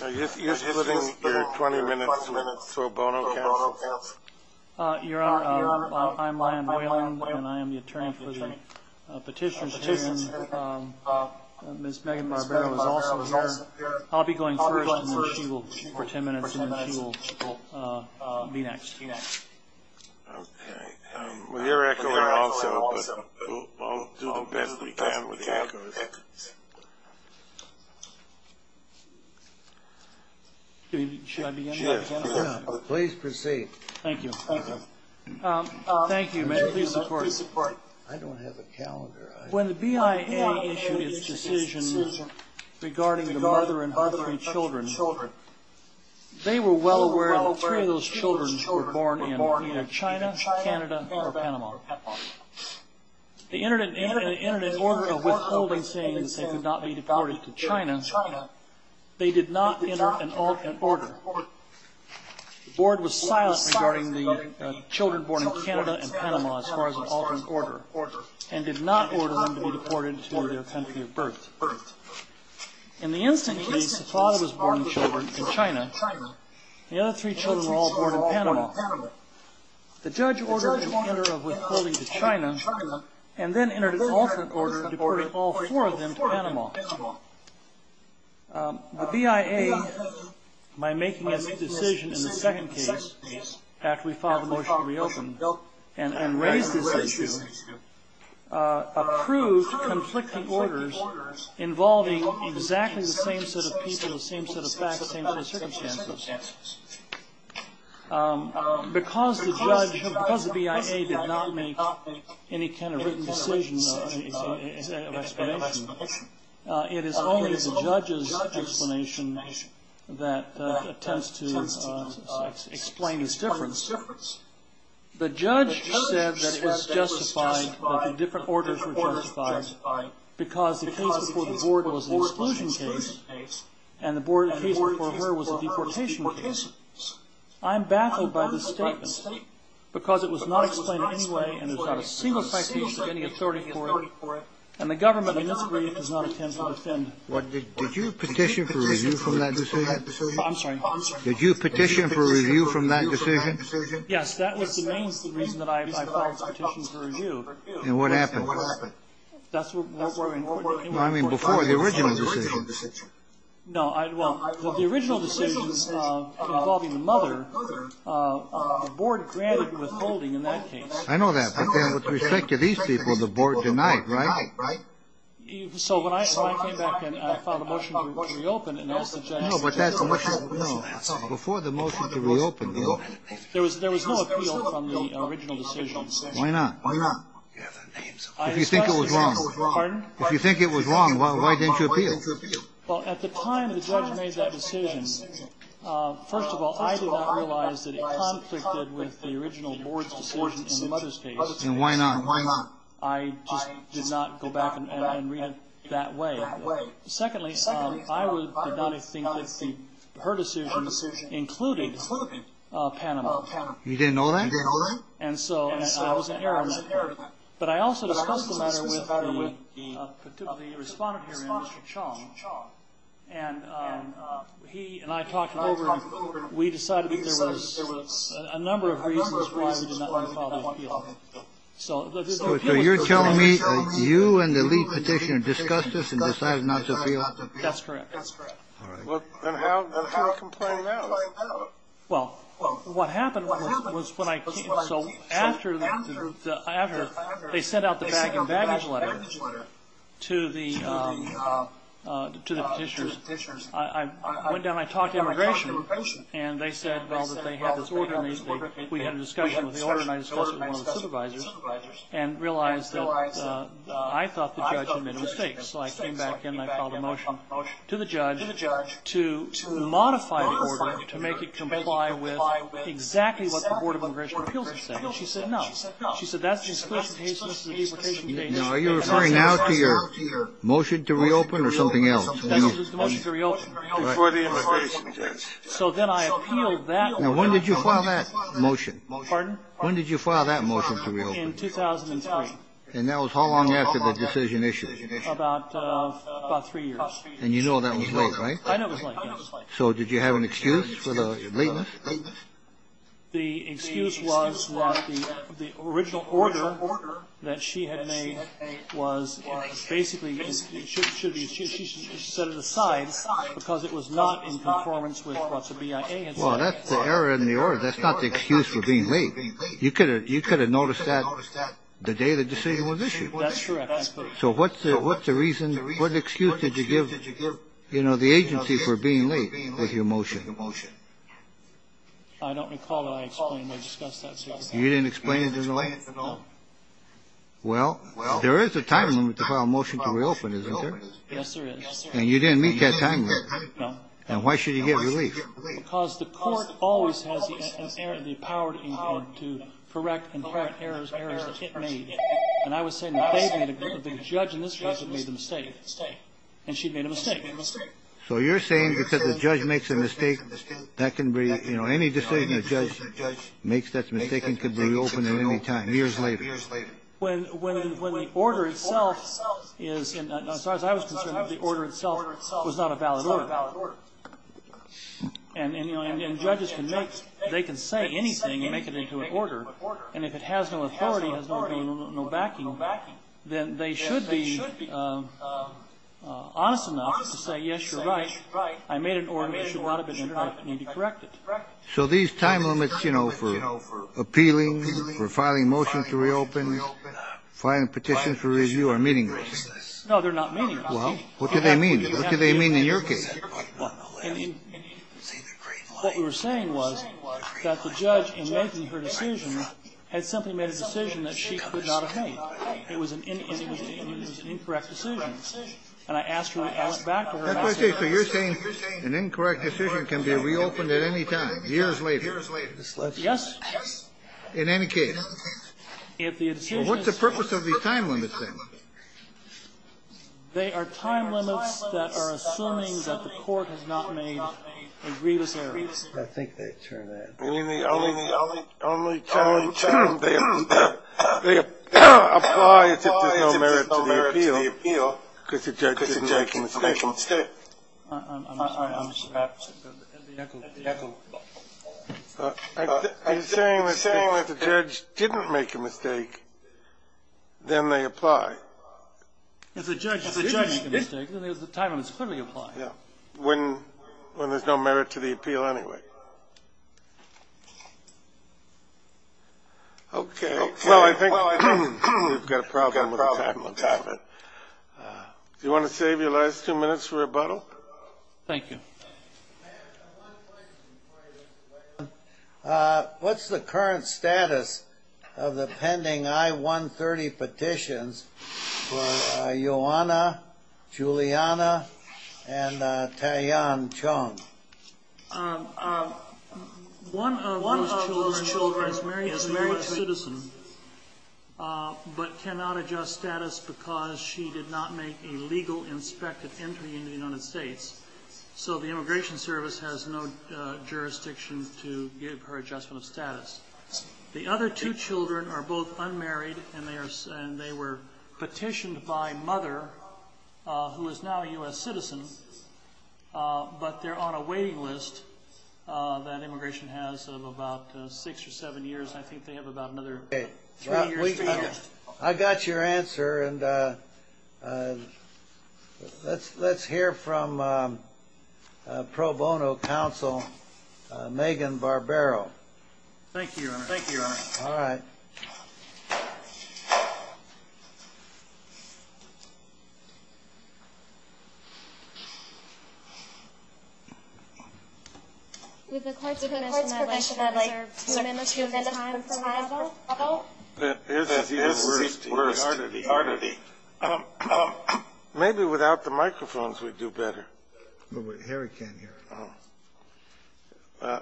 You're splitting your 20 minutes to a bono counsel? Your Honor, I'm Lyon Wayland and I am the attorney for the petition. Ms. Megan Barbero is also here. I'll be going first and then she will be next. Your Echolera also, but I'll do the best we can with the Echolera. Should I begin? Please proceed. Thank you. Thank you. Thank you, ma'am. Please support. I don't have a calendar. When the BIA issued its decision regarding the mother and her three children, they were well aware that three of those children were born in either China, Canada, or Panama. They entered an order of withholding, saying that they could not be deported to China. They did not enter an alternate order. The Board was silent regarding the children born in Canada and Panama as far as an alternate order and did not order them to be deported to their country of birth. In the instant case, the father was born in China. The other three children were all born in Panama. The judge ordered an order of withholding to China and then entered an alternate order to deport all four of them to Panama. The BIA, by making its decision in the second case, after we filed the motion to reopen and raised this issue, approved conflicting orders involving exactly the same set of people, the same set of facts, the same set of circumstances. Because the BIA did not make any kind of written decision of explanation, it is only the judge's explanation that attempts to explain this difference. The judge said that it was justified, that the different orders were justified because the case before the Board was an exclusion case and the case before her was a deportation case. I'm baffled by this statement because it was not explained in any way and there's not a single fact sheet with any authority for it, and the government in this case does not intend to defend it. Did you petition for review from that decision? I'm sorry? Did you petition for review from that decision? Yes, that was the main reason that I filed this petition for review. And what happened? That's where we came from. I mean, before the original decision. No, well, the original decision involving the mother, the Board granted withholding in that case. I know that, but then with respect to these people, the Board denied, right? So when I came back and I filed a motion to reopen and asked the judge. No, but that's the motion. No. Before the motion to reopen, there was no appeal from the original decision. Why not? Why not? If you think it was wrong. Pardon? If you think it was wrong, why didn't you appeal? Well, at the time the judge made that decision, first of all, I did not realize that it conflicted with the original Board's decision in the mother's case. And why not? And why not? I just did not go back and read it that way. Secondly, I did not think that her decision included Panama. You didn't know that? And so I was in error in that. But I also discussed the matter with the respondent here, Mr. Chong, and he and I talked it over and we decided that there was a number of reasons why we did not want to appeal. So you're telling me that you and the lead petitioner discussed this and decided not to appeal? That's correct. That's correct. All right. Well, then how can we complain now? Well, what happened was when I came, so after they sent out the bag and baggage letter to the petitioners, I went down and I talked to immigration and they said, well, that they had this order and I discussed it with one of the supervisors and realized that I thought the judge had made a mistake. So I came back in and I filed a motion to the judge to modify the order, to make it comply with exactly what the Board of Immigration Appeals had said. She said no. She said that's the discretion case and this is the deportation case. Now, are you referring now to your motion to reopen or something else? That was the motion to reopen. For the immigration case. So then I appealed that. Now, when did you file that motion? Pardon? When did you file that motion to reopen? In 2003. And that was how long after the decision issued? About three years. And you know that was late, right? I know it was late, yes. So did you have an excuse for the lateness? The excuse was that the original order that she had made was basically, she set it aside because it was not in conformance with what the BIA had said. Well, that's the error in the order. That's not the excuse for being late. You could have noticed that the day the decision was issued. That's correct. So what's the reason, what excuse did you give, you know, the agency for being late with your motion? I don't recall that I explained or discussed that. You didn't explain it in the light? No. Well, there is a time limit to file a motion to reopen, isn't there? Yes, there is. And you didn't meet that time limit? No. And why should you get relief? Because the court always has the power to correct and correct errors made. And I was saying the judge in this case had made a mistake. And she made a mistake. So you're saying because the judge makes a mistake, that can be, you know, any decision the judge makes that's mistaken could be reopened at any time, years later. When the order itself is, as far as I was concerned, the order itself was not a valid order. And, you know, and judges can make, they can say anything and make it into an order. And if it has no authority, has no backing, then they should be honest enough to say, yes, you're right, I made an order that should not have been corrected. So these time limits, you know, for appealing, for filing a motion to reopen, filing a petition for review are meaningless. No, they're not meaningless. Well, what do they mean? What do they mean in your case? What we were saying was that the judge in making her decision had simply made a decision that she could not have made. It was an incorrect decision. And I asked her, I went back to her and I said. So you're saying an incorrect decision can be reopened at any time, years later? Yes. In any case. What's the purpose of these time limits, then? They are time limits that are assuming that the court has not made a grievous error. I think they turn out. I mean, the only time they apply is if there's no merit to the appeal because the judge didn't make a mistake. I'm saying if the judge didn't make a mistake, then they apply. If the judge didn't make a mistake, then the time limit is clearly applied. When there's no merit to the appeal anyway. Okay. Well, I think we've got a problem with the time limit. Do you want to save your last two minutes for rebuttal? Thank you. I have one question. What's the current status of the pending I-130 petitions for Ioanna, Juliana, and Taeyeon Chung? One of those children is a U.S. citizen but cannot adjust status because she did not make a legal inspected entry into the United States. So the Immigration Service has no jurisdiction to give her adjustment of status. The other two children are both unmarried, and they were petitioned by mother, who is now a U.S. citizen, but they're on a waiting list that Immigration has of about six or seven years. I think they have about another three years to go. I got your answer. Let's hear from pro bono counsel Megan Barbero. Thank you, Your Honor. Thank you, Your Honor. All right. With the court's permission, I'd like to amend the time for rebuttal. This is even worse. Maybe without the microphones we'd do better. Harry can't hear us.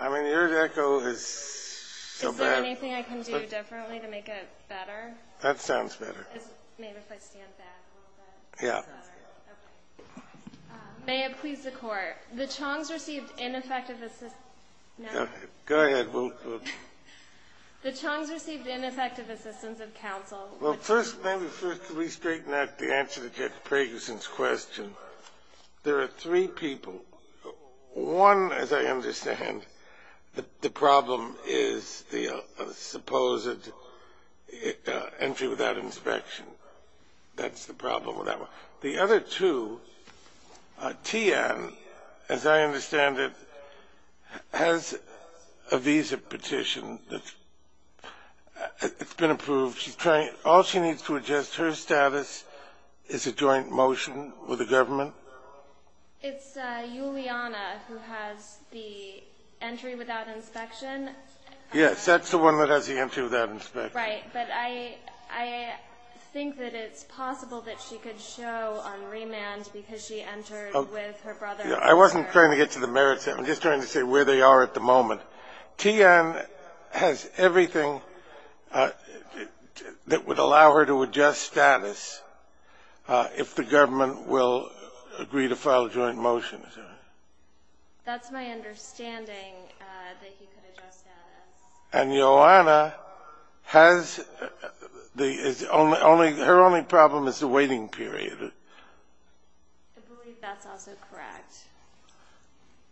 I mean, your echo is so bad. Is there anything I can do differently to make it better? That sounds better. Maybe if I stand back a little bit. Yeah. May it please the court. The Chong's received ineffective assistance. Go ahead. The Chong's received ineffective assistance of counsel. Well, first, let me first re-straighten out the answer to Judge Pragerson's question. There are three people. One, as I understand, the problem is the supposed entry without inspection. That's the problem with that one. The other two, Tian, as I understand it, has a visa petition that's been approved. All she needs to adjust her status is a joint motion with the government. It's Juliana who has the entry without inspection. Yes, that's the one that has the entry without inspection. Right. But I think that it's possible that she could show on remand because she entered with her brother. I wasn't trying to get to the merits. I'm just trying to say where they are at the moment. Tian has everything that would allow her to adjust status if the government will agree to file a joint motion. That's my understanding, that he could adjust status. And Johanna has the only her only problem is the waiting period. I believe that's also correct.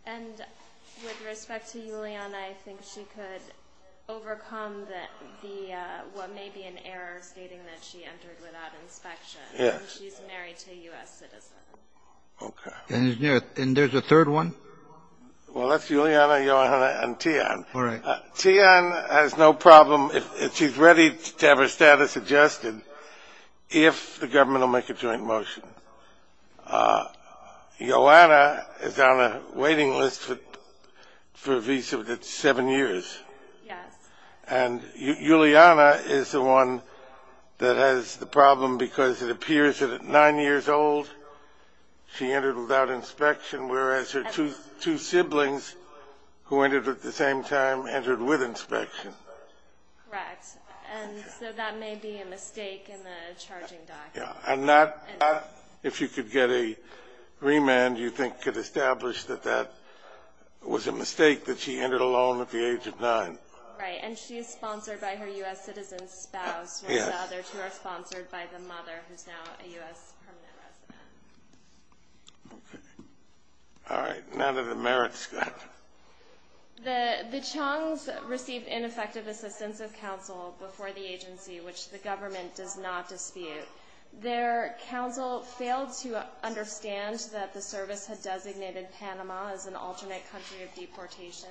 And with respect to Juliana, I think she could overcome the what may be an error stating that she entered without inspection. Yes. And she's married to a U.S. citizen. Okay. And there's a third one? Tian has no problem if she's ready to have her status adjusted if the government will make a joint motion. Johanna is on a waiting list for a visa that's seven years. Yes. And Juliana is the one that has the problem because it appears that at nine years old she entered without inspection, whereas her two siblings who entered at the same time entered with inspection. Correct. And so that may be a mistake in the charging document. And not if you could get a remand you think could establish that that was a mistake that she entered alone at the age of nine. Right. And she is sponsored by her U.S. citizen spouse. Yes. And the other two are sponsored by the mother who's now a U.S. permanent resident. Okay. All right. None of the merits. Go ahead. The Chung's received ineffective assistance of counsel before the agency, which the government does not dispute. Their counsel failed to understand that the service had designated Panama as an alternate country of deportation.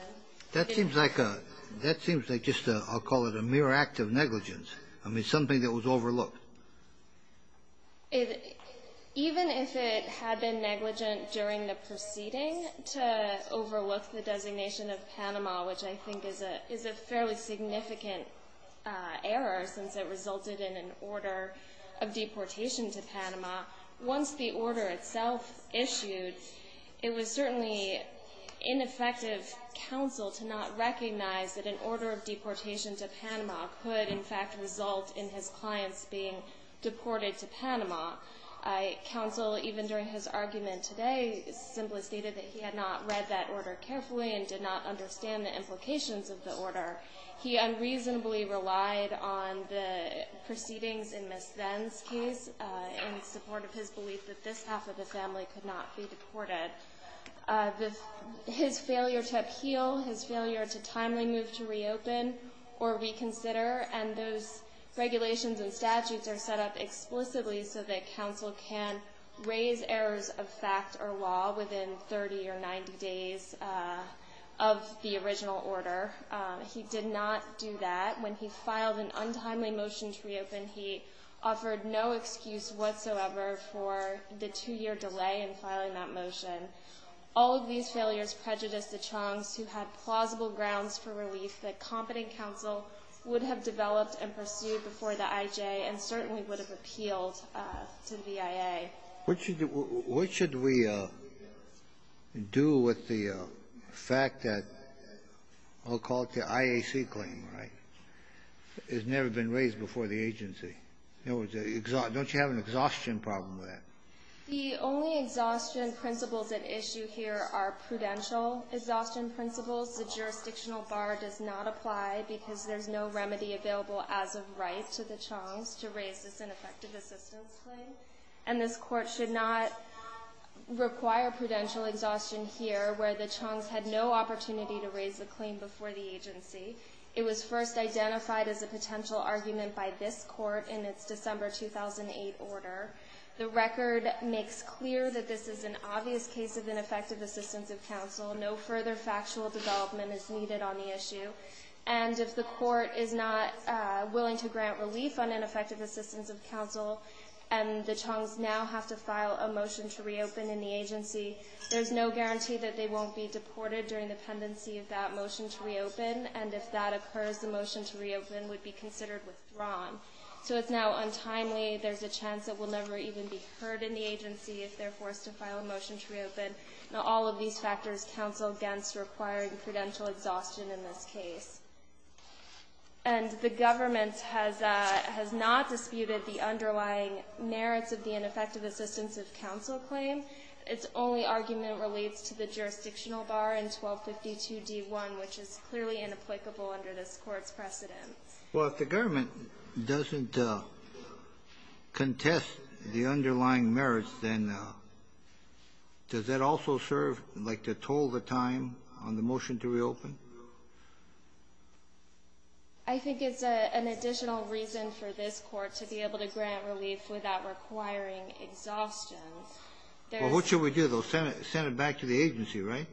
That seems like just a, I'll call it a mere act of negligence. I mean, something that was overlooked. Even if it had been negligent during the proceeding to overlook the designation of Panama, which I think is a fairly significant error since it resulted in an order of deportation to Panama, once the order itself issued, it was certainly ineffective counsel to not recognize that an order of deportation to Panama could, in fact, result in his clients being deported to Panama. Counsel, even during his argument today, simply stated that he had not read that order carefully and did not understand the implications of the order. He unreasonably relied on the proceedings in Ms. Venn's case in support of his belief that this half of the family could not be deported. His failure to appeal, his failure to timely move to reopen or reconsider, and those regulations and statutes are set up explicitly so that counsel can raise errors of fact or law within 30 or 90 days of the original order. He did not do that. When he filed an untimely motion to reopen, he offered no excuse whatsoever for the two-year delay in filing that motion. All of these failures prejudiced the Chong's who had plausible grounds for relief that competent counsel would have developed and pursued before the IJ and certainly would have appealed to the VIA. What should we do with the fact that I'll call it the IAC claim, right? It's never been raised before the agency. Don't you have an exhaustion problem with that? The only exhaustion principles at issue here are prudential exhaustion principles. The jurisdictional bar does not apply because there's no remedy available as of right to the Chong's to raise this ineffective assistance claim. And this court should not require prudential exhaustion here, where the Chong's had no opportunity to raise the claim before the agency. It was first identified as a potential argument by this court in its December 2008 order. The record makes clear that this is an obvious case of ineffective assistance of counsel. No further factual development is needed on the issue. And if the court is not willing to grant relief on ineffective assistance of counsel and the Chong's now have to file a motion to reopen in the agency, there's no guarantee that they won't be deported during the pendency of that motion to reopen. And if that occurs, the motion to reopen would be considered withdrawn. So it's now untimely. There's a chance it will never even be heard in the agency if they're forced to file a motion to reopen. Now, all of these factors counsel against requiring prudential exhaustion in this case. And the government has not disputed the underlying merits of the ineffective assistance of counsel claim. Its only argument relates to the jurisdictional bar in 1252d1, which is clearly inapplicable under this Court's precedents. Well, if the government doesn't contest the underlying merits, then does that also serve like to toll the time on the motion to reopen? I think it's an additional reason for this Court to be able to grant relief without requiring exhaustion. Well, what should we do? They'll send it back to the agency, right?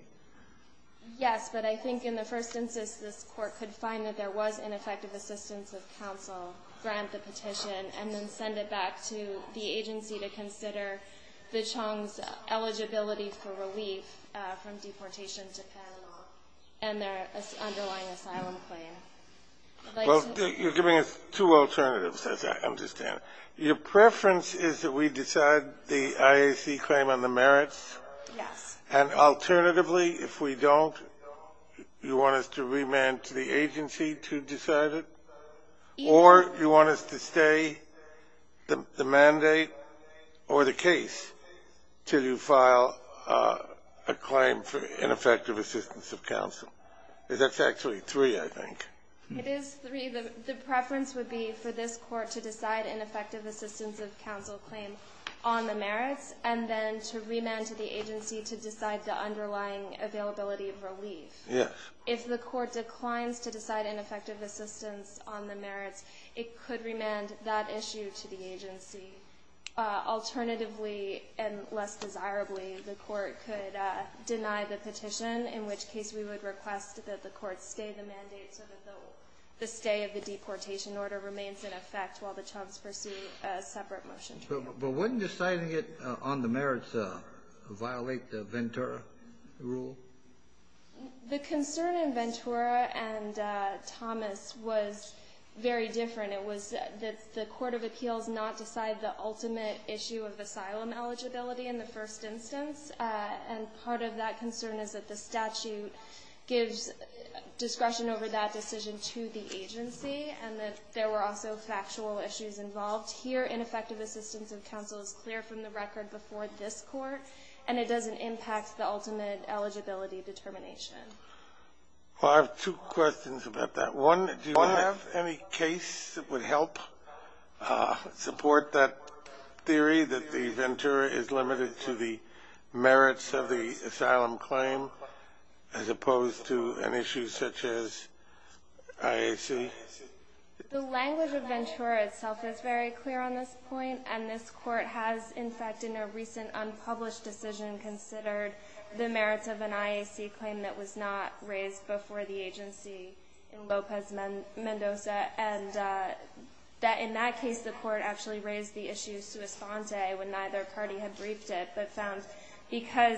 Yes. But I think in the first instance, this Court could find that there was ineffective assistance of counsel, grant the petition, and then send it back to the agency to consider the Chong's eligibility for relief from deportation to Panama and their underlying asylum claim. Well, you're giving us two alternatives, as I understand it. Your preference is that we decide the IAC claim on the merits? Yes. And alternatively, if we don't, you want us to remand to the agency to decide it? Or you want us to stay the mandate or the case till you file a claim for ineffective assistance of counsel? That's actually three, I think. It is three. The preference would be for this Court to decide ineffective assistance of counsel claim on the merits and then to remand to the agency to decide the underlying availability of relief. Yes. If the Court declines to decide ineffective assistance on the merits, it could remand that issue to the agency. Alternatively, and less desirably, the Court could deny the petition, in which case we would request that the Court stay the mandate so that the stay of the deportation order remains in effect while the Chong's pursue a separate motion. But wouldn't deciding it on the merits violate the Ventura rule? The concern in Ventura and Thomas was very different. It was that the Court of Appeals not decide the ultimate issue of asylum eligibility in the first instance. And part of that concern is that the statute gives discretion over that decision to the agency and that there were also factual issues involved. Here, ineffective assistance of counsel is clear from the record before this Court, and it doesn't impact the ultimate eligibility determination. Well, I have two questions about that. One, do you have any case that would help support that theory that the Ventura is limited to the merits of the asylum claim as opposed to an issue such as IAC? The language of Ventura itself is very clear on this point, and this Court has, in a recent unpublished decision, considered the merits of an IAC claim that was not raised before the agency in Lopez Mendoza, and that in that case the Court actually raised the issue sua sponte when neither party had briefed it, but found because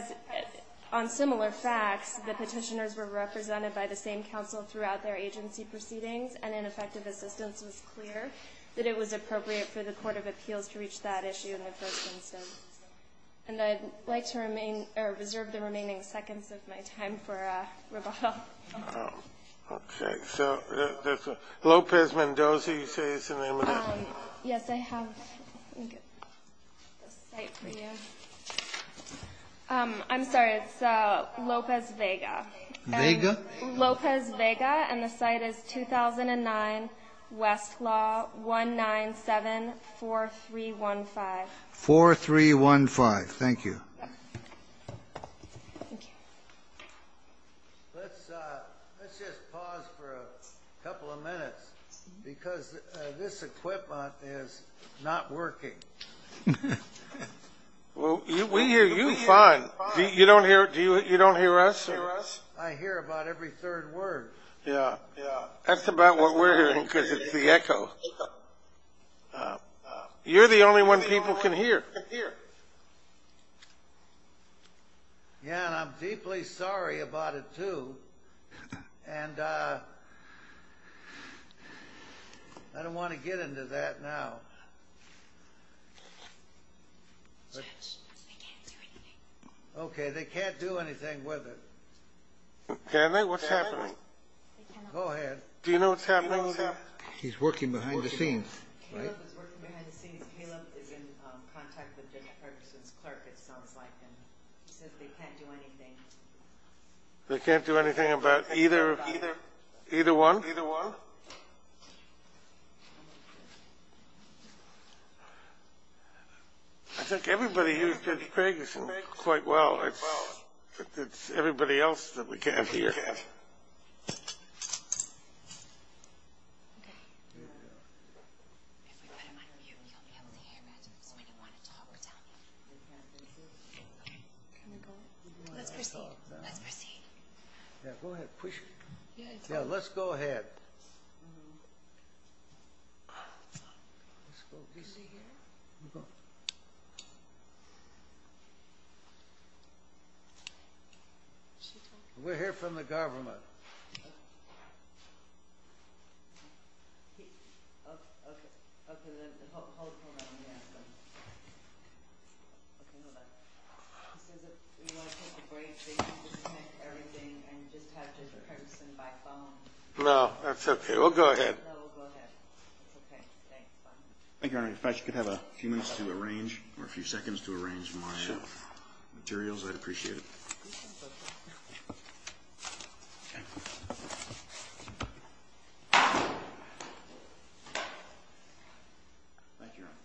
on similar facts, the petitioners were represented by the same counsel throughout their agency proceedings, and ineffective assistance was clear that it was And I'd like to remain or reserve the remaining seconds of my time for rebuttal. Okay. So Lopez Mendoza, you say is the name of that? Yes, I have. Let me get the site for you. I'm sorry. It's Lopez Vega. Vega? Lopez Vega, and the site is 2009, Westlaw, 1974315. Thank you. Let's just pause for a couple of minutes, because this equipment is not working. Well, we hear you fine. You don't hear us? I hear about every third word. Yeah, that's about what we're hearing, because it's the echo. You're the only one people can hear. Yeah, and I'm deeply sorry about it, too, and I don't want to get into that now. Judge, they can't do anything. Okay, they can't do anything with it. Can they? What's happening? Go ahead. Do you know what's happening with that? He's working behind the scenes. Caleb is working behind the scenes. Caleb is in contact with Judge Ferguson's clerk, it sounds like, and he says they can't do anything. They can't do anything about either one? Either one. I think everybody hears Judge Ferguson quite well. It's everybody else that we can't hear. Okay. If we put him on mute, he'll be able to hear it, so we don't want to talk to him. Okay. Can we go? Let's proceed. Let's proceed. Yeah, go ahead. Push it. Yeah, let's go ahead. Let's go. Is he here? Go. Go. We're here from the government. No, that's okay. We'll go ahead. No, we'll go ahead. It's okay. Thank you, Your Honor. In fact, you could have a few minutes to arrange, or a few seconds to arrange my materials. I'd appreciate it. Thank you, Your Honor.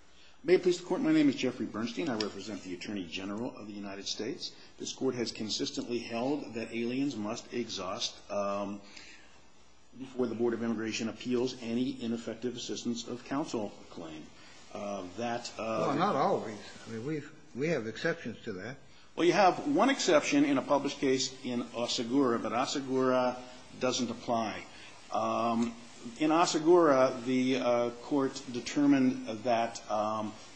May it please the Court, my name is Jeffrey Bernstein. I represent the Attorney General of the United States. This Court has consistently held that aliens must exhaust before the Board of Immigration appeals any ineffective assistance of counsel claim. That... Well, not always. I mean, we have exceptions to that. Well, you have one exception in a published case in Asagura, but Asagura doesn't apply. In Asagura, the Court determined that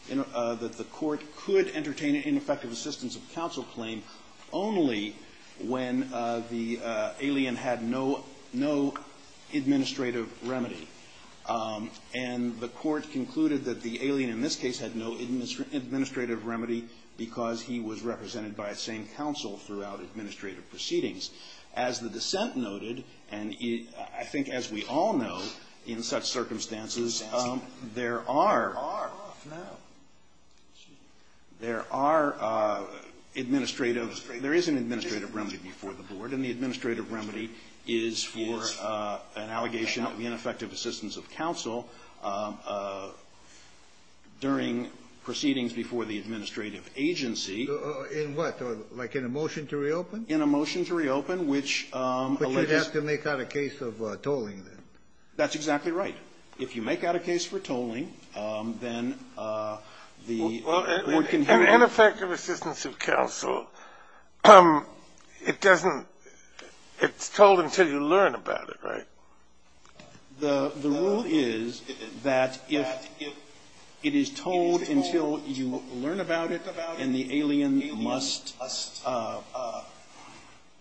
the Court could entertain an ineffective assistance of counsel claim only when the alien had no administrative remedy. And the Court concluded that the alien in this case had no administrative remedy because he was represented by a sane counsel throughout administrative proceedings. As the dissent noted, and I think as we all know in such circumstances, there are... There are. There are administrative... There is an administrative remedy before the Board, and the administrative remedy is for an allegation of ineffective assistance of counsel during proceedings before the administrative agency. In what? Like in a motion to reopen? In a motion to reopen, which alleges... But you'd have to make out a case of tolling, then. That's exactly right. If you make out a case for tolling, then the... Well, an ineffective assistance of counsel, it doesn't... It's told until you learn about it, right? The rule is that if it is told until you learn about it, and the alien must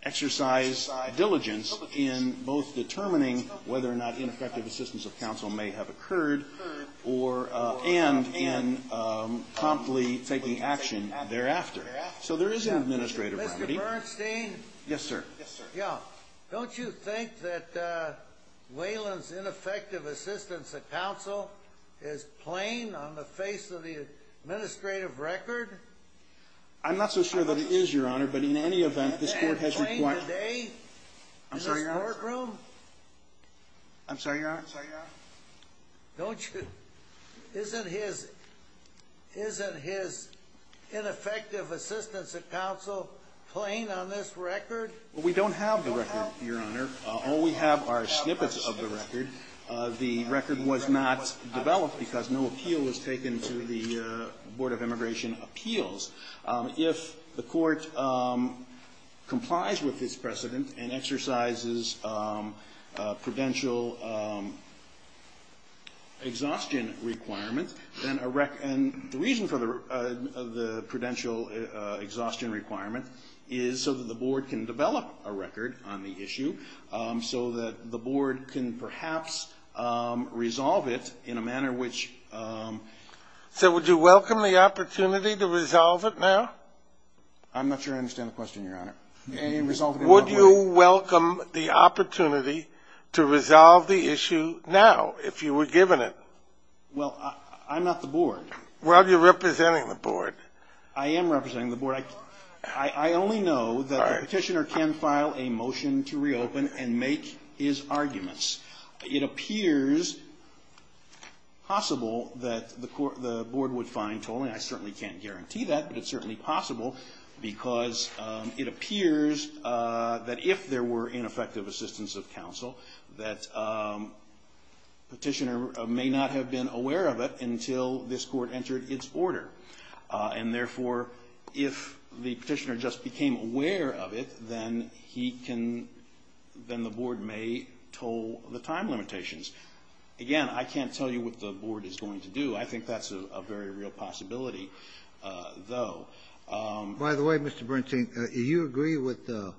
exercise diligence in both determining whether or not ineffective assistance of counsel may have occurred or end in promptly taking action thereafter. So there is an administrative remedy. Mr. Bernstein? Yes, sir. Yeah. Don't you think that Whalen's ineffective assistance of counsel is plain on the face of the administrative record? I'm not so sure that it is, Your Honor, but in any event, this Court has... Isn't it plain today in this courtroom? I'm sorry, Your Honor. I'm sorry, Your Honor. I'm sorry, Your Honor. I'm sorry, Your Honor. Don't you... Isn't his... Isn't his ineffective assistance of counsel plain on this record? Well, we don't have the record, Your Honor. All we have are snippets of the record. The record was not developed because no appeal was taken to the Board of Immigration Appeals. If the Court complies with this precedent and exercises prudential exhaustion requirements, then a rec... And the reason for the prudential exhaustion requirement is so that the Board can develop a record on the issue, so that the Board can perhaps resolve it in a manner which... So would you welcome the opportunity to resolve it now? I'm not sure I understand the question, Your Honor. Would you welcome the opportunity to resolve the issue now if you were given it? Well, I'm not the Board. Well, you're representing the Board. I am representing the Board. I only know that the petitioner can file a motion to reopen and make his arguments. It appears possible that the Board would find tolling. I certainly can't guarantee that, but it's certainly possible because it appears that if there were ineffective assistance of until this Court entered its order. And therefore, if the petitioner just became aware of it, then he can... Then the Board may toll the time limitations. Again, I can't tell you what the Board is going to do. I think that's a very real possibility, though. By the way, Mr. Bernstein, do you agree with the...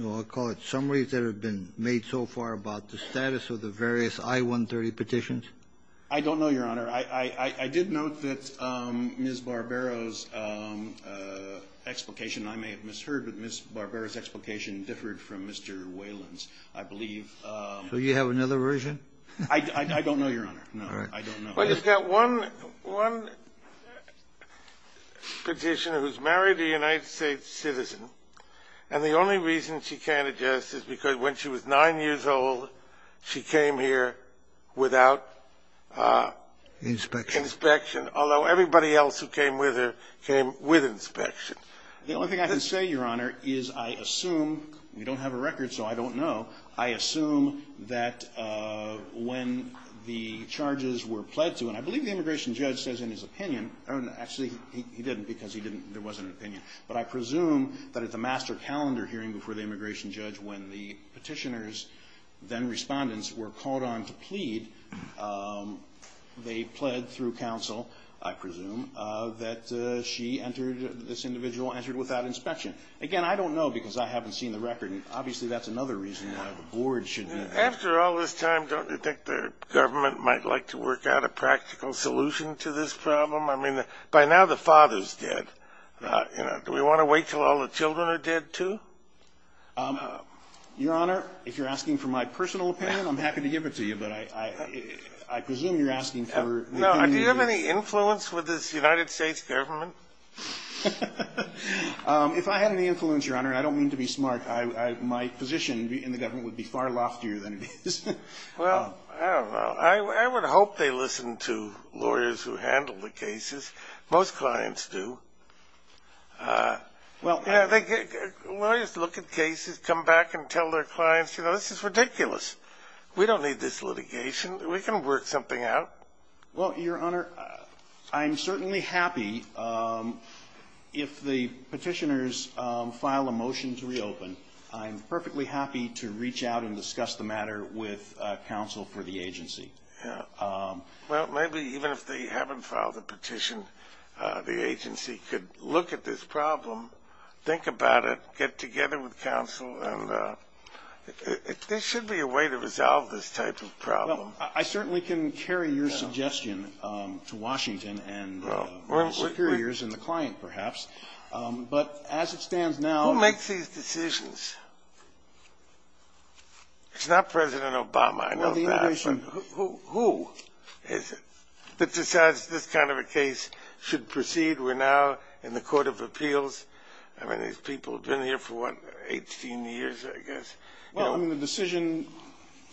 I'll call it summaries that have been made so far about the status of the various I-130 petitions? I don't know, Your Honor. I did note that Ms. Barbero's explication, I may have misheard, but Ms. Barbero's explication differed from Mr. Whalen's, I believe. So you have another version? I don't know, Your Honor. No, I don't know. Well, you've got one petitioner who's married a United States citizen, and the only reason she can't adjust is because when she was 9 years old, she came here without... Inspection. ...inspection, although everybody else who came with her came with inspection. The only thing I can say, Your Honor, is I assume we don't have a record, so I don't know. I assume that when the charges were pled to, and I believe the immigration judge says in his opinion, or actually he didn't because there wasn't an opinion, but I presume that at the master calendar hearing before the immigration judge, when the petitioners, then respondents, were called on to plead, they pled through counsel, I presume, that she entered, this individual entered without inspection. Again, I don't know because I haven't seen the record, and obviously that's another reason why the board should be... After all this time, don't you think the government might like to work out a practical solution to this problem? I mean, by now the father's dead. Do we want to wait until all the children are dead, too? Your Honor, if you're asking for my personal opinion, I'm happy to give it to you, but I presume you're asking for... Do you have any influence with this United States government? If I had any influence, Your Honor, and I don't mean to be smart, my position in the government would be far loftier than it is. Well, I don't know. I would hope they listen to lawyers who handle the cases. Most clients do. Lawyers look at cases, come back and tell their clients, you know, this is ridiculous. We don't need this litigation. We can work something out. Well, Your Honor, I'm certainly happy if the petitioners file a motion to reopen. I'm perfectly happy to reach out and discuss the matter with counsel for the agency. Well, maybe even if they haven't filed a petition, the agency could look at this problem, think about it, get together with counsel, and there should be a way to resolve this type of problem. Well, I certainly can carry your suggestion to Washington and the superiors and the client, perhaps. But as it stands now... Who makes these decisions? It's not President Obama. I know that. Who decides this kind of a case should proceed? We're now in the Court of Appeals. I mean, these people have been here for, what, 18 years, I guess. Well, I mean, the decision,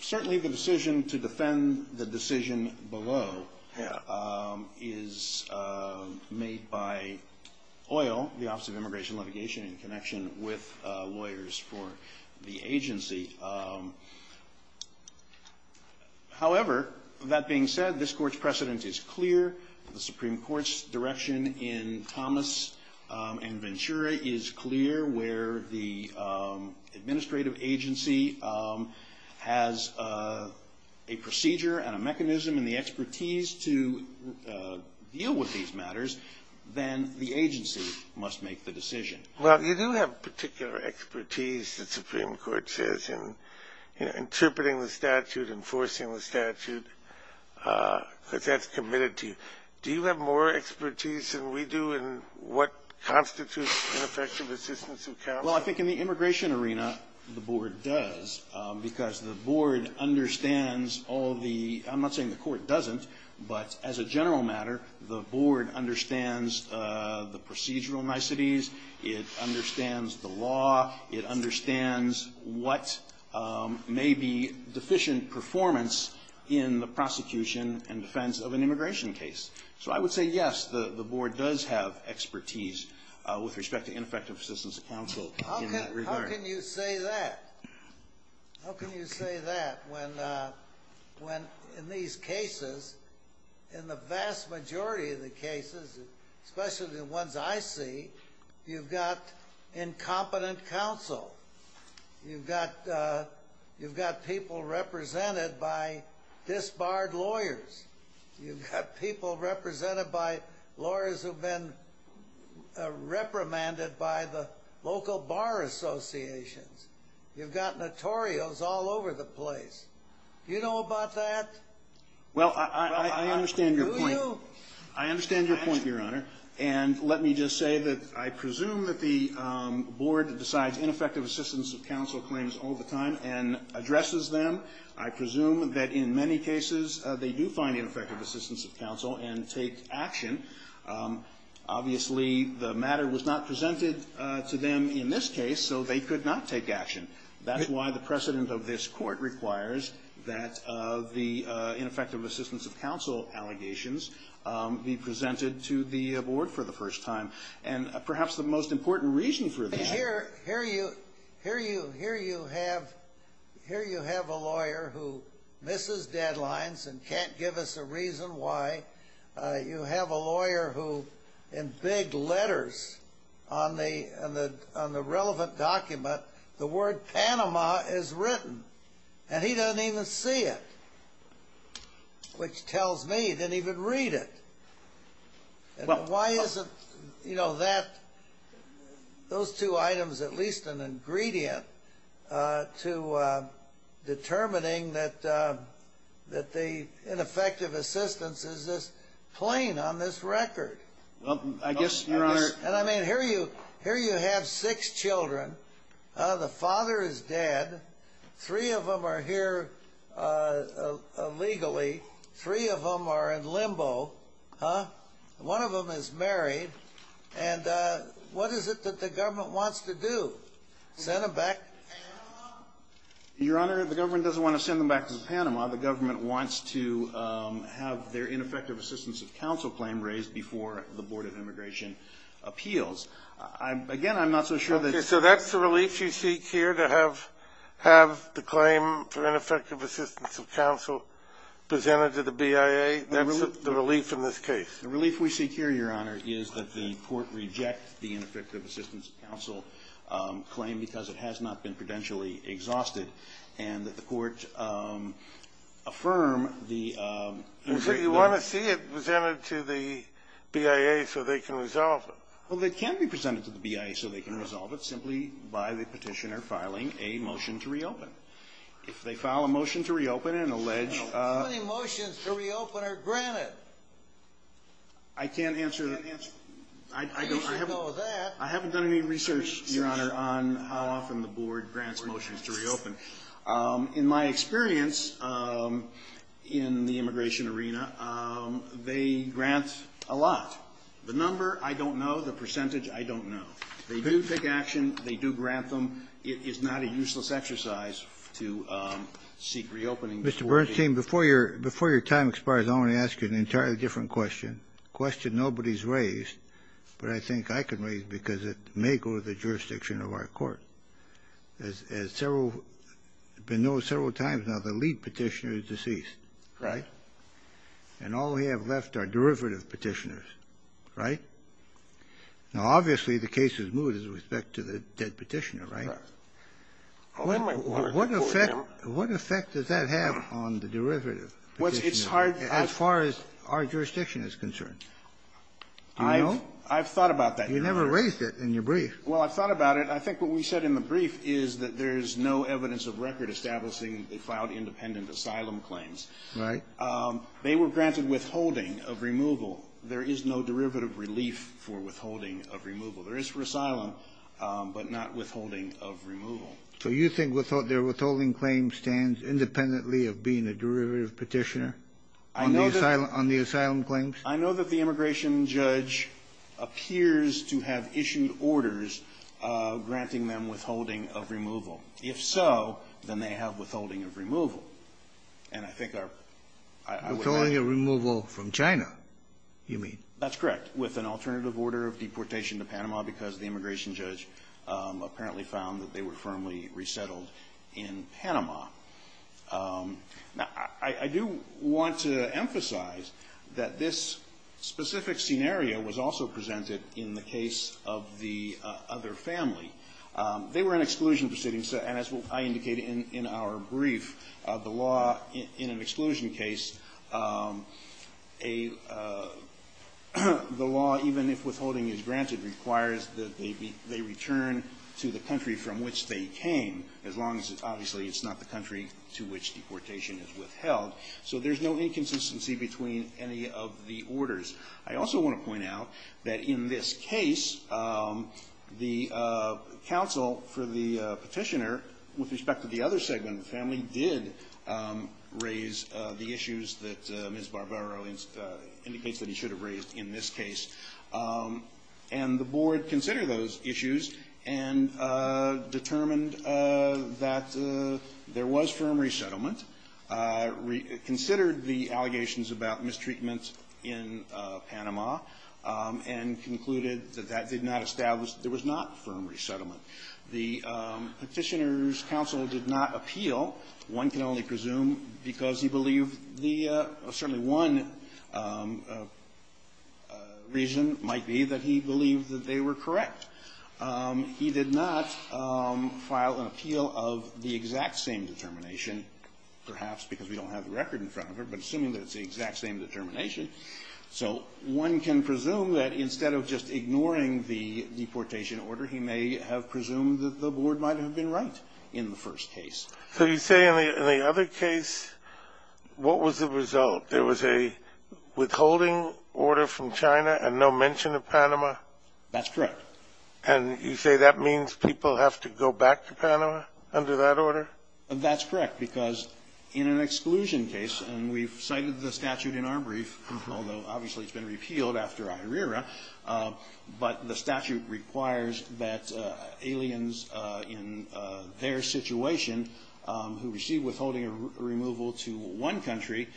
certainly the decision to defend the decision below is made by OIL, the Office of Immigration and Litigation, in connection with lawyers for the agency. However, that being said, this Court's precedent is clear. The Supreme Court's direction in Thomas and Ventura is clear where the administrative agency has a procedure and a mechanism and the expertise to deal with these matters. Then the agency must make the decision. Well, you do have particular expertise, the Supreme Court says, in interpreting the statute, enforcing the statute, because that's committed to you. Do you have more expertise than we do in what constitutes an effective assistance of counsel? Well, I think in the immigration arena, the Board does, because the Board understands all the... I'm not saying the Court doesn't, but as a general matter, the Board understands the procedural niceties, it understands the law, it understands what may be deficient performance in the prosecution and defense of an immigration case. So I would say, yes, the Board does have expertise with respect to ineffective assistance of counsel in that regard. How can you say that? How can you say that when in these cases, in the vast majority of the cases, especially the ones I see, you've got incompetent counsel, you've got people represented by disbarred lawyers, you've got people represented by lawyers who've been reprimanded by the local bar associations, you've got notorios all over the place. Do you know about that? Well, I understand your point. Do you? I understand your point, Your Honor. And let me just say that I presume that the Board decides ineffective assistance of counsel claims all the time and addresses them. I presume that in many cases, they do find ineffective assistance of counsel and take action. Obviously, the matter was not presented to them in this case, so they could not take action. That's why the precedent of this court requires that the ineffective assistance of counsel allegations be presented to the Board for the first time. Here you have a lawyer who misses deadlines and can't give us a reason why. You have a lawyer who, in big letters on the relevant document, the word Panama is written. And he doesn't even see it, which tells me he didn't even read it. Why isn't that, those two items, at least an ingredient to determining that the ineffective assistance is this plain on this record? Well, I guess, Your Honor. And I mean, here you have six children. The father is dead. Three of them are here illegally. Three of them are in limbo. Huh? One of them is married. And what is it that the government wants to do, send them back to Panama? Your Honor, the government doesn't want to send them back to Panama. The government wants to have their ineffective assistance of counsel claim raised before the Board of Immigration Appeals. Again, I'm not so sure that's the relief you seek here to have the claim for ineffective assistance of counsel presented to the BIA. That's the relief in this case. The relief we seek here, Your Honor, is that the Court reject the ineffective assistance of counsel claim because it has not been prudentially exhausted, and that the Court affirm the immigrant law. Well, so you want to see it presented to the BIA so they can resolve it. Well, it can be presented to the BIA so they can resolve it simply by the Petitioner filing a motion to reopen. How many motions to reopen are granted? I can't answer the answer. I don't know that. I haven't done any research, Your Honor, on how often the Board grants motions to reopen. In my experience in the immigration arena, they grant a lot. The number, I don't know. The percentage, I don't know. They do take action. They do grant them. It is not a useless exercise to seek reopening. Mr. Bernstein, before your time expires, I want to ask you an entirely different question, a question nobody's raised, but I think I can raise it because it may go to the jurisdiction of our Court. As several of you know several times now, the lead Petitioner is deceased. Right. And all we have left are derivative Petitioners. Right? Now, obviously, the case is moved with respect to the dead Petitioner, right? Right. What effect does that have on the derivative Petitioner as far as our jurisdiction is concerned? Do you know? I've thought about that. You never raised it in your brief. Well, I've thought about it. I think what we said in the brief is that there is no evidence of record establishing they filed independent asylum claims. Right. They were granted withholding of removal. There is no derivative relief for withholding of removal. There is for asylum, but not withholding of removal. So you think their withholding claim stands independently of being a derivative Petitioner on the asylum claims? I know that the immigration judge appears to have issued orders granting them withholding of removal. If so, then they have withholding of removal. And I think our ---- Withholding of removal from China, you mean? That's correct, with an alternative order of deportation to Panama because the immigration judge apparently found that they were firmly resettled in Panama. Now, I do want to emphasize that this specific scenario was also presented in the case of the other family. They were an exclusion proceeding, and as I indicated in our brief, the law in an exclusion case, the law, even if withholding is granted, requires that they return to the country from which they came, as long as it's obviously not the country to which deportation is withheld. So there's no inconsistency between any of the orders. I also want to point out that in this case, the counsel for the Petitioner, with respect to the other segment of the family, did raise the issues that Ms. Barbero indicates that he should have raised in this case. And the Board considered those issues and determined that there was firm resettlement, considered the allegations about mistreatment in Panama, and concluded that that did not establish that there was not firm resettlement. The Petitioner's counsel did not appeal. One can only presume, because he believed the – certainly one reason might be that he believed that they were correct. He did not file an appeal of the exact same determination, perhaps because we don't have the record in front of her, but assuming that it's the exact same determination. So one can presume that instead of just ignoring the deportation order, he may have presumed that the Board might have been right in the first case. So you say in the other case, what was the result? There was a withholding order from China and no mention of Panama? That's correct. And you say that means people have to go back to Panama under that order? That's correct. Because in an exclusion case, and we've cited the statute in our brief, although obviously it's been repealed after IRERA, but the statute requires that aliens in their situation who receive withholding removal to one country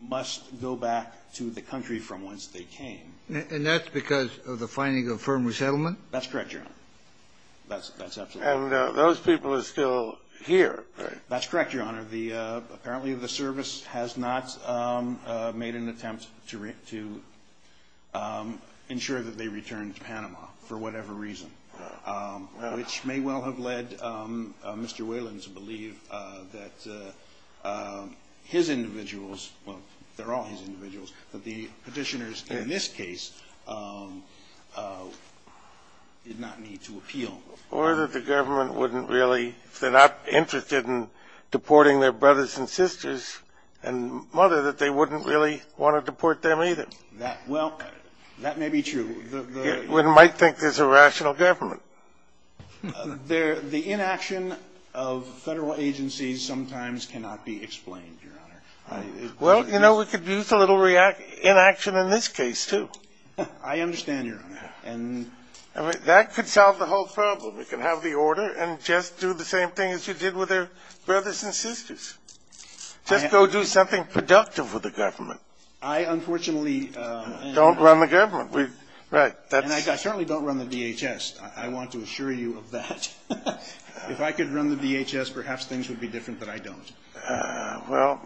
must go back to the country from whence they came. And that's because of the finding of firm resettlement? That's absolutely correct. And those people are still here, right? That's correct, Your Honor. Apparently the service has not made an attempt to ensure that they return to Panama for whatever reason, which may well have led Mr. Wayland to believe that his individuals, well, they're all his individuals, but the petitioners in this case did not need to appeal. Or that the government wouldn't really, if they're not interested in deporting their brothers and sisters and mother, that they wouldn't really want to deport them either. Well, that may be true. One might think there's a rational government. The inaction of Federal agencies sometimes cannot be explained, Your Honor. Well, you know, we could use a little inaction in this case, too. I understand, Your Honor. That could solve the whole problem. We could have the order and just do the same thing as you did with their brothers and sisters. Just go do something productive with the government. I unfortunately don't run the government. Right. And I certainly don't run the DHS. I want to assure you of that. If I could run the DHS, perhaps things would be different, but I don't. Well,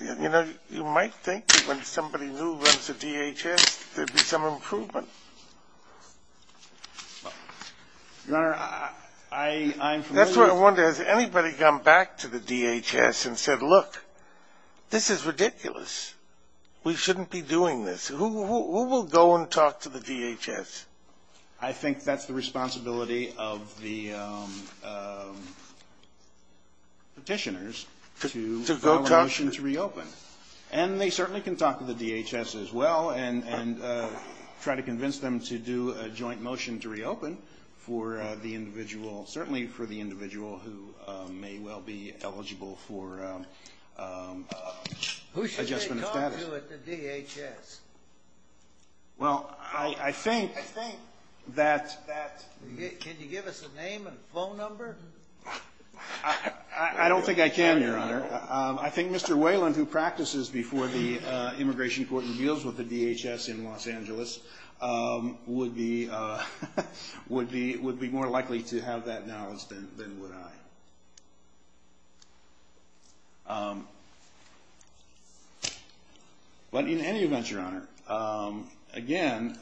you know, you might think that when somebody new runs the DHS, there'd be some improvement. Your Honor, I'm familiar with the ---- That's what I wonder. Has anybody gone back to the DHS and said, look, this is ridiculous. We shouldn't be doing this. Who will go and talk to the DHS? I think that's the responsibility of the petitioners to file a motion to reopen. And they certainly can talk to the DHS as well and try to convince them to do a joint motion to reopen for the individual, certainly for the individual who may well be eligible for adjustment of status. Who should they call to at the DHS? Well, I think that ---- Can you give us a name and phone number? I don't think I can, Your Honor. I think Mr. Whalen, who practices before the Immigration Court and deals with the DHS in Los Angeles, would be more likely to have that knowledge than would I. But in any event, Your Honor, again,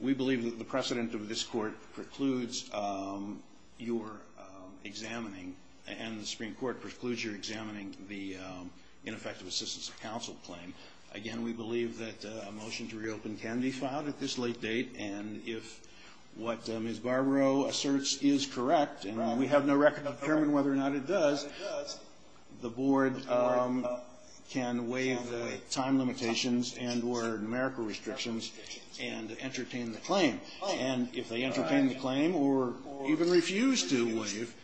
we believe that the precedent of this court precludes your examining and the Supreme Court precludes your examining the ineffective assistance of counsel claim. Again, we believe that a motion to reopen can be filed at this late date, and if what Ms. Barbaro asserts is correct, and we have no record of determining whether or not it does, the board can waive the time limitations and or numerical restrictions and entertain the claim. And if they entertain the claim or even refuse to waive,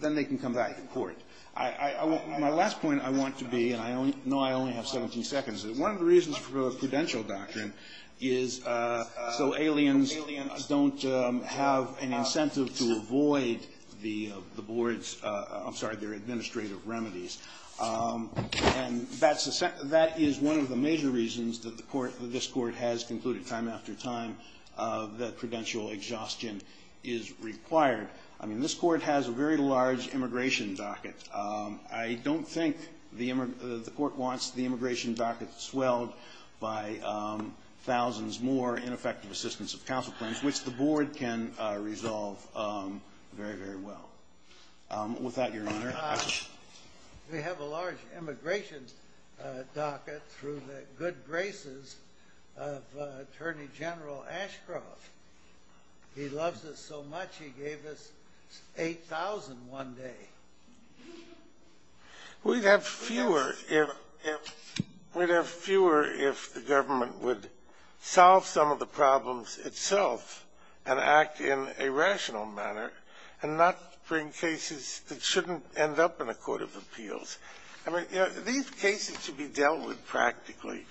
then they can come back to court. My last point I want to be, and I know I only have 17 seconds, is one of the reasons for a prudential doctrine is so aliens don't have an incentive to avoid the board's ---- I'm sorry, their administrative remedies. And that is one of the major reasons that this court has concluded time after time that prudential exhaustion is required. I mean, this court has a very large immigration docket. I don't think the court wants the immigration docket swelled by thousands more ineffective assistance of counsel claims, which the board can resolve very, very well. With that, Your Honor, action. We have a large immigration docket through the good graces of Attorney General Ashcroft. He loves us so much he gave us 8,000 one day. We'd have fewer if the government would solve some of the problems itself and act in a rational manner and not bring cases that shouldn't end up in a court of appeals. I mean, these cases should be dealt with practically.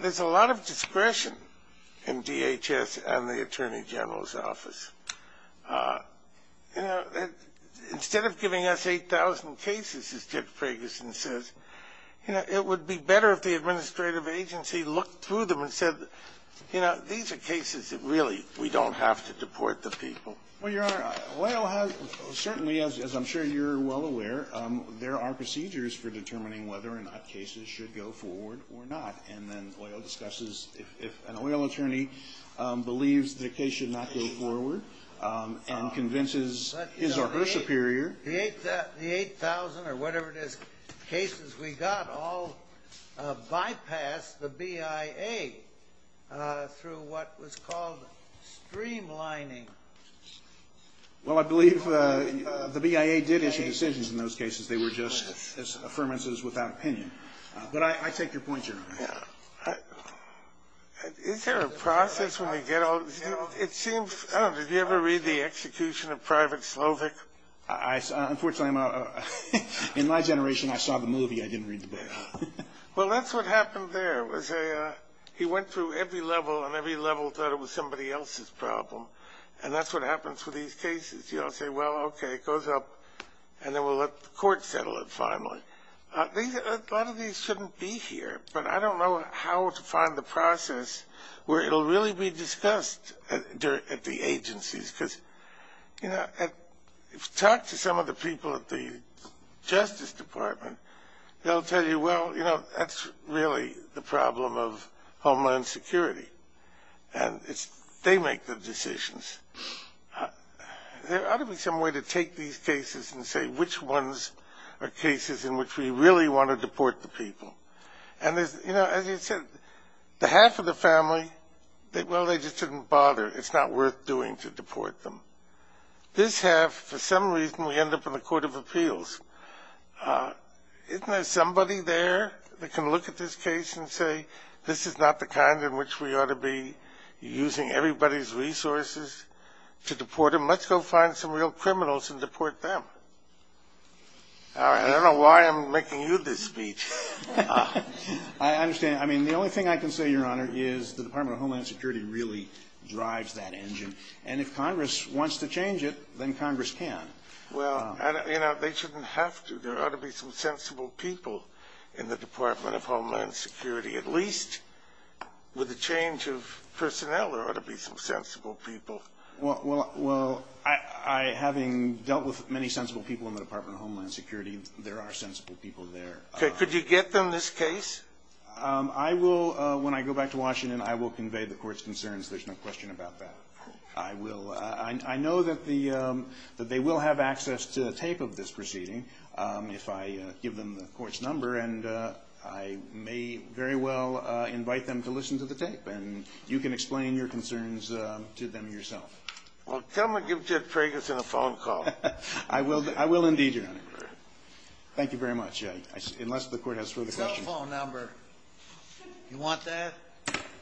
There's a lot of discretion in DHS and the Attorney General's office. Instead of giving us 8,000 cases, as Ted Ferguson says, it would be better if the administrative agency looked through them and said, you know, these are cases that really we don't have to deport the people. Well, Your Honor, certainly, as I'm sure you're well aware, there are procedures for that, and then OIL discusses if an OIL attorney believes the case should not go forward and convinces his or her superior. The 8,000 or whatever it is cases we got all bypassed the BIA through what was called streamlining. Well, I believe the BIA did issue decisions in those cases. They were just as affirmances without opinion. But I take your point, Your Honor. Is there a process when we get all this? It seems, I don't know, did you ever read the execution of Private Slovic? Unfortunately, in my generation, I saw the movie. I didn't read the BIA. Well, that's what happened there. He went through every level, and every level thought it was somebody else's problem. And that's what happens with these cases. You all say, well, okay, it goes up, and then we'll let the court settle it finally. A lot of these shouldn't be here, but I don't know how to find the process where it will really be discussed at the agencies. Talk to some of the people at the Justice Department. They'll tell you, well, that's really the problem of Homeland Security. And they make the decisions. There ought to be some way to take these cases and say which ones are cases in which we really want to deport the people. And, you know, as you said, the half of the family, well, they just didn't bother. It's not worth doing to deport them. This half, for some reason, we end up in the Court of Appeals. Isn't there somebody there that can look at this case and say this is not the kind in which we ought to be using everybody's resources to deport them? Let's go find some real criminals and deport them. I don't know why I'm making you this speech. I understand. I mean, the only thing I can say, Your Honor, is the Department of Homeland Security really drives that engine. And if Congress wants to change it, then Congress can. Well, you know, they shouldn't have to. There ought to be some sensible people in the Department of Homeland Security. At least with the change of personnel, there ought to be some sensible people. Well, having dealt with many sensible people in the Department of Homeland Security, there are sensible people there. Could you get them this case? I will. When I go back to Washington, I will convey the Court's concerns. There's no question about that. I will. I know that they will have access to a tape of this proceeding if I give them the Court's number. And I may very well invite them to listen to the tape. And you can explain your concerns to them yourself. Well, come and give Ted Ferguson a phone call. I will indeed, Your Honor. Thank you very much, unless the Court has further questions.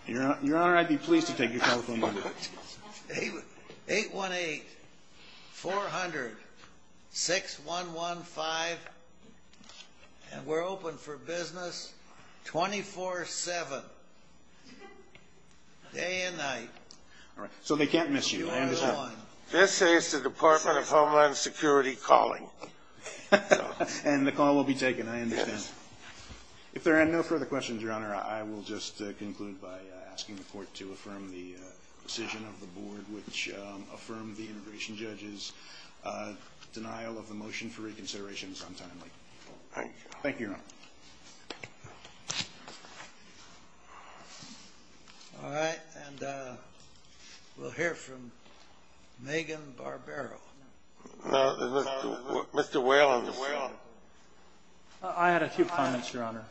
Your Honor, I'd be pleased to take your telephone number. 818-400-6115. And we're open for business 24-7, day and night. So they can't miss you. This is the Department of Homeland Security calling. And the call will be taken, I understand. If there are no further questions, Your Honor, I will just conclude by asking the Court to affirm the decision of the Board, which affirmed the integration judge's denial of the motion for reconsideration sometime later. Thank you, Your Honor. All right. And we'll hear from Megan Barbero. Mr. Whalen. I had a few comments, Your Honor.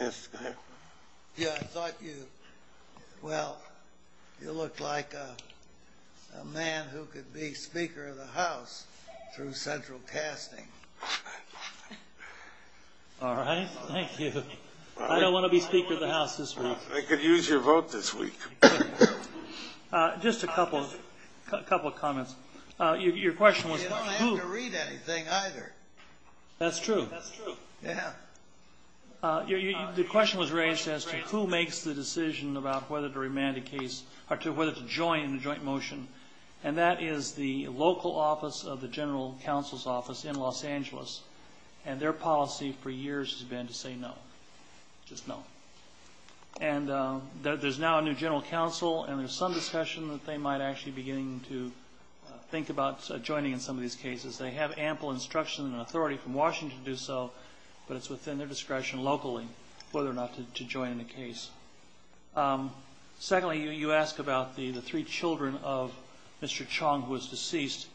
Yes, go ahead. Yeah, I thought you, well, you looked like a man who could be Speaker of the House through central casting. All right, thank you. I don't want to be Speaker of the House this week. I could use your vote this week. Just a couple of comments. You don't have to read anything either. That's true. That's true. Yeah. The question was raised as to who makes the decision about whether to remand a case or whether to join in a joint motion. And that is the local office of the General Counsel's office in Los Angeles. And their policy for years has been to say no, just no. And there's now a new General Counsel, and there's some discussion that they might actually be beginning to think about joining in some of these cases. They have ample instruction and authority from Washington to do so, but it's within their discretion locally whether or not to join in a case. Secondly, you ask about the three children of Mr. Chong, who was deceased.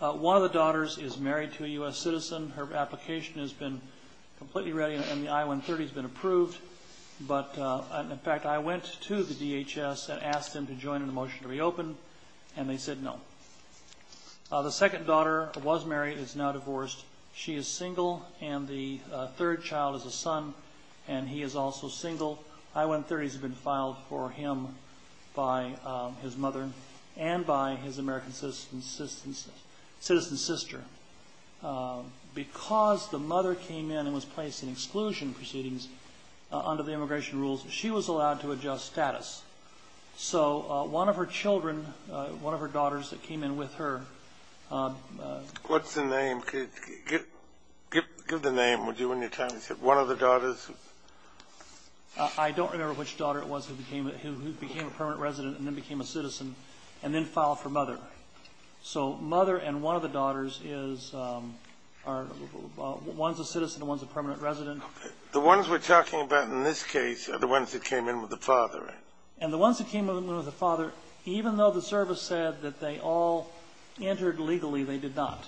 One of the daughters is married to a U.S. citizen. Her application has been completely ready, and the I-130 has been approved. But in fact, I went to the DHS and asked them to join in a motion to reopen, and they said no. The second daughter was married and is now divorced. She is single, and the third child is a son, and he is also single. I-130s have been filed for him by his mother and by his American citizen sister. Because the mother came in and was placed in exclusion proceedings under the immigration rules, she was allowed to adjust status. So one of her children, one of her daughters that came in with her ---- What's the name? Give the name, would you, on your time? One of the daughters? I don't remember which daughter it was who became a permanent resident and then became a citizen, and then filed for mother. So mother and one of the daughters is ---- One's a citizen, one's a permanent resident. The ones we're talking about in this case are the ones that came in with the father, right? And the ones that came in with the father, even though the service said that they all entered legally, they did not.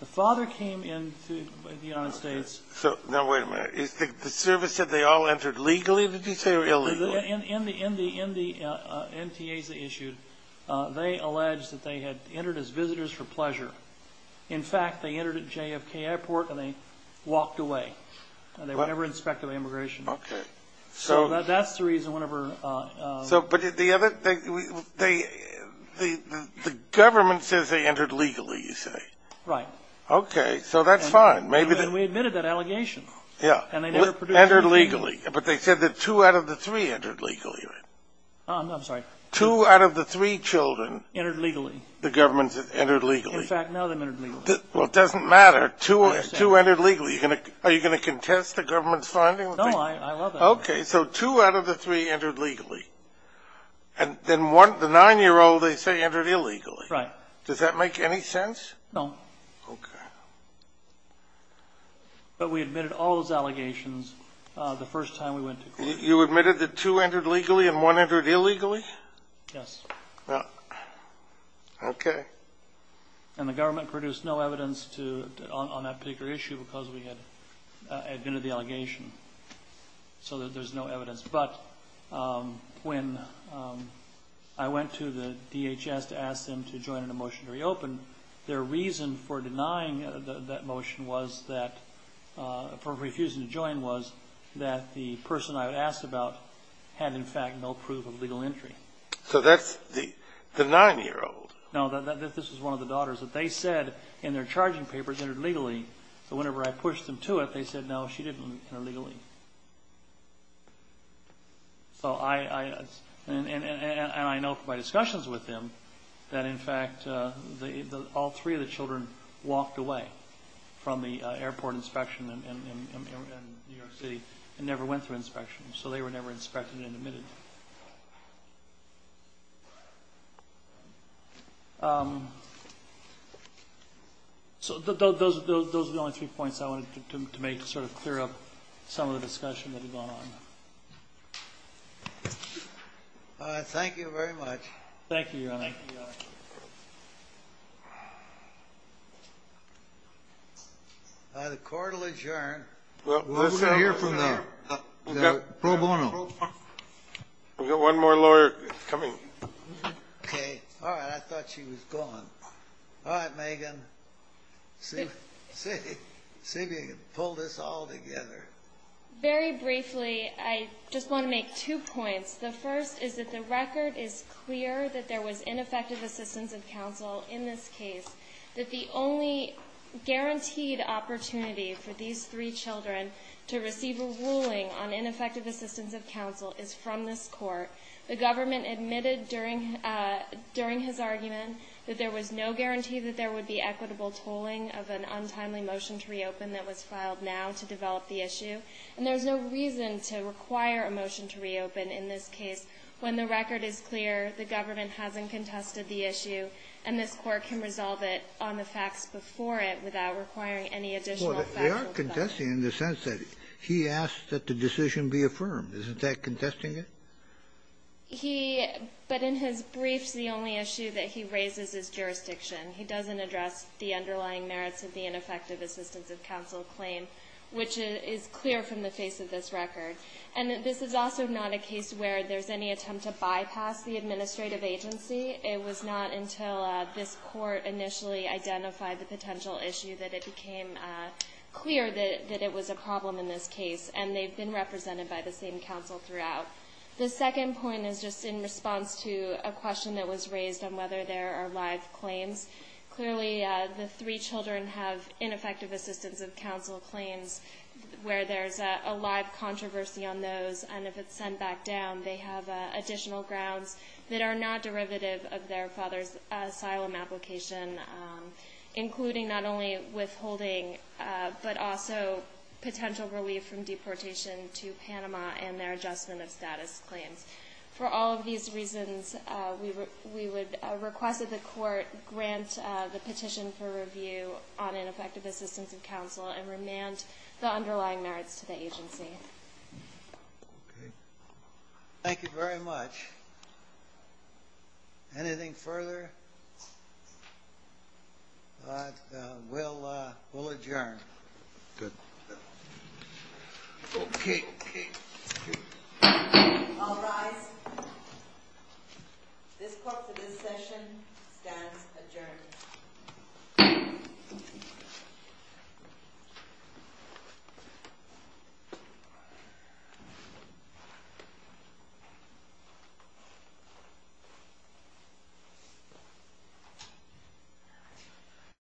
The father came into the United States ---- Now, wait a minute. The service said they all entered legally, did you say, or illegally? In the NTAs they issued, they alleged that they had entered as visitors for pleasure. In fact, they entered at JFK Airport and they walked away, and they were never inspected by immigration. Okay. So that's the reason one of her ---- But the government says they entered legally, you say. Right. Okay, so that's fine. And we admitted that allegation. Yeah. Entered legally. But they said that two out of the three entered legally, right? I'm sorry. Two out of the three children ---- Entered legally. The government said entered legally. In fact, none of them entered legally. Well, it doesn't matter. Two entered legally. Are you going to contest the government's finding? No, I love that. Okay, so two out of the three entered legally. And then one, the nine-year-old, they say entered illegally. Right. Does that make any sense? No. Okay. But we admitted all those allegations the first time we went to court. You admitted that two entered legally and one entered illegally? Yes. Okay. And the government produced no evidence on that particular issue because we had admitted the allegation. So there's no evidence. But when I went to the DHS to ask them to join in a motion to reopen, their reason for denying that motion was that, for refusing to join, was that the person I had asked about had, in fact, no proof of legal entry. So that's the nine-year-old. No, this was one of the daughters. They said in their charging papers entered legally. So whenever I pushed them to it, they said, no, she didn't enter legally. And I know from my discussions with them that, in fact, all three of the children walked away from the airport inspection in New York City and never went through inspection. So they were never inspected and admitted. So those are the only three points I wanted to make to sort of clear up some of the discussion that had gone on. Thank you very much. Thank you, Your Honor. Thank you, Your Honor. The court will adjourn. Let's hear from the pro bono. We've got one more lawyer coming. Okay. All right. I thought she was gone. All right, Megan. See if you can pull this all together. Very briefly, I just want to make two points. The first is that the record is clear that there was ineffective assistance of counsel in this case, that the only guaranteed opportunity for these three children to receive a ruling on ineffective assistance of counsel is from this Court. The government admitted during his argument that there was no guarantee that there would be equitable tolling of an untimely motion to reopen that was filed now to develop the issue, and there's no reason to require a motion to reopen in this case when the record is clear, the government hasn't contested the issue, and this Court can resolve it on the facts before it without requiring any additional factual development. Well, they are contesting in the sense that he asked that the decision be affirmed. Isn't that contesting it? He — but in his briefs, the only issue that he raises is jurisdiction. He doesn't address the underlying merits of the ineffective assistance of counsel claim, which is clear from the face of this record. And this is also not a case where there's any attempt to bypass the administrative agency. It was not until this Court initially identified the potential issue that it became clear that it was a problem in this case, and they've been represented by the same counsel throughout. The second point is just in response to a question that was raised on whether there are live claims. Clearly, the three children have ineffective assistance of counsel claims where there's a live controversy on those, and if it's sent back down, they have additional grounds that are not derivative of their father's asylum application, including not only withholding but also potential relief from deportation to Panama and their adjustment of status claims. For all of these reasons, we would request that the Court grant the petition for review on ineffective assistance of counsel and remand the underlying merits to the agency. Okay. Thank you very much. Anything further? We'll adjourn. Good. Okay. I'll rise. This Court for this session stands adjourned. Thank you.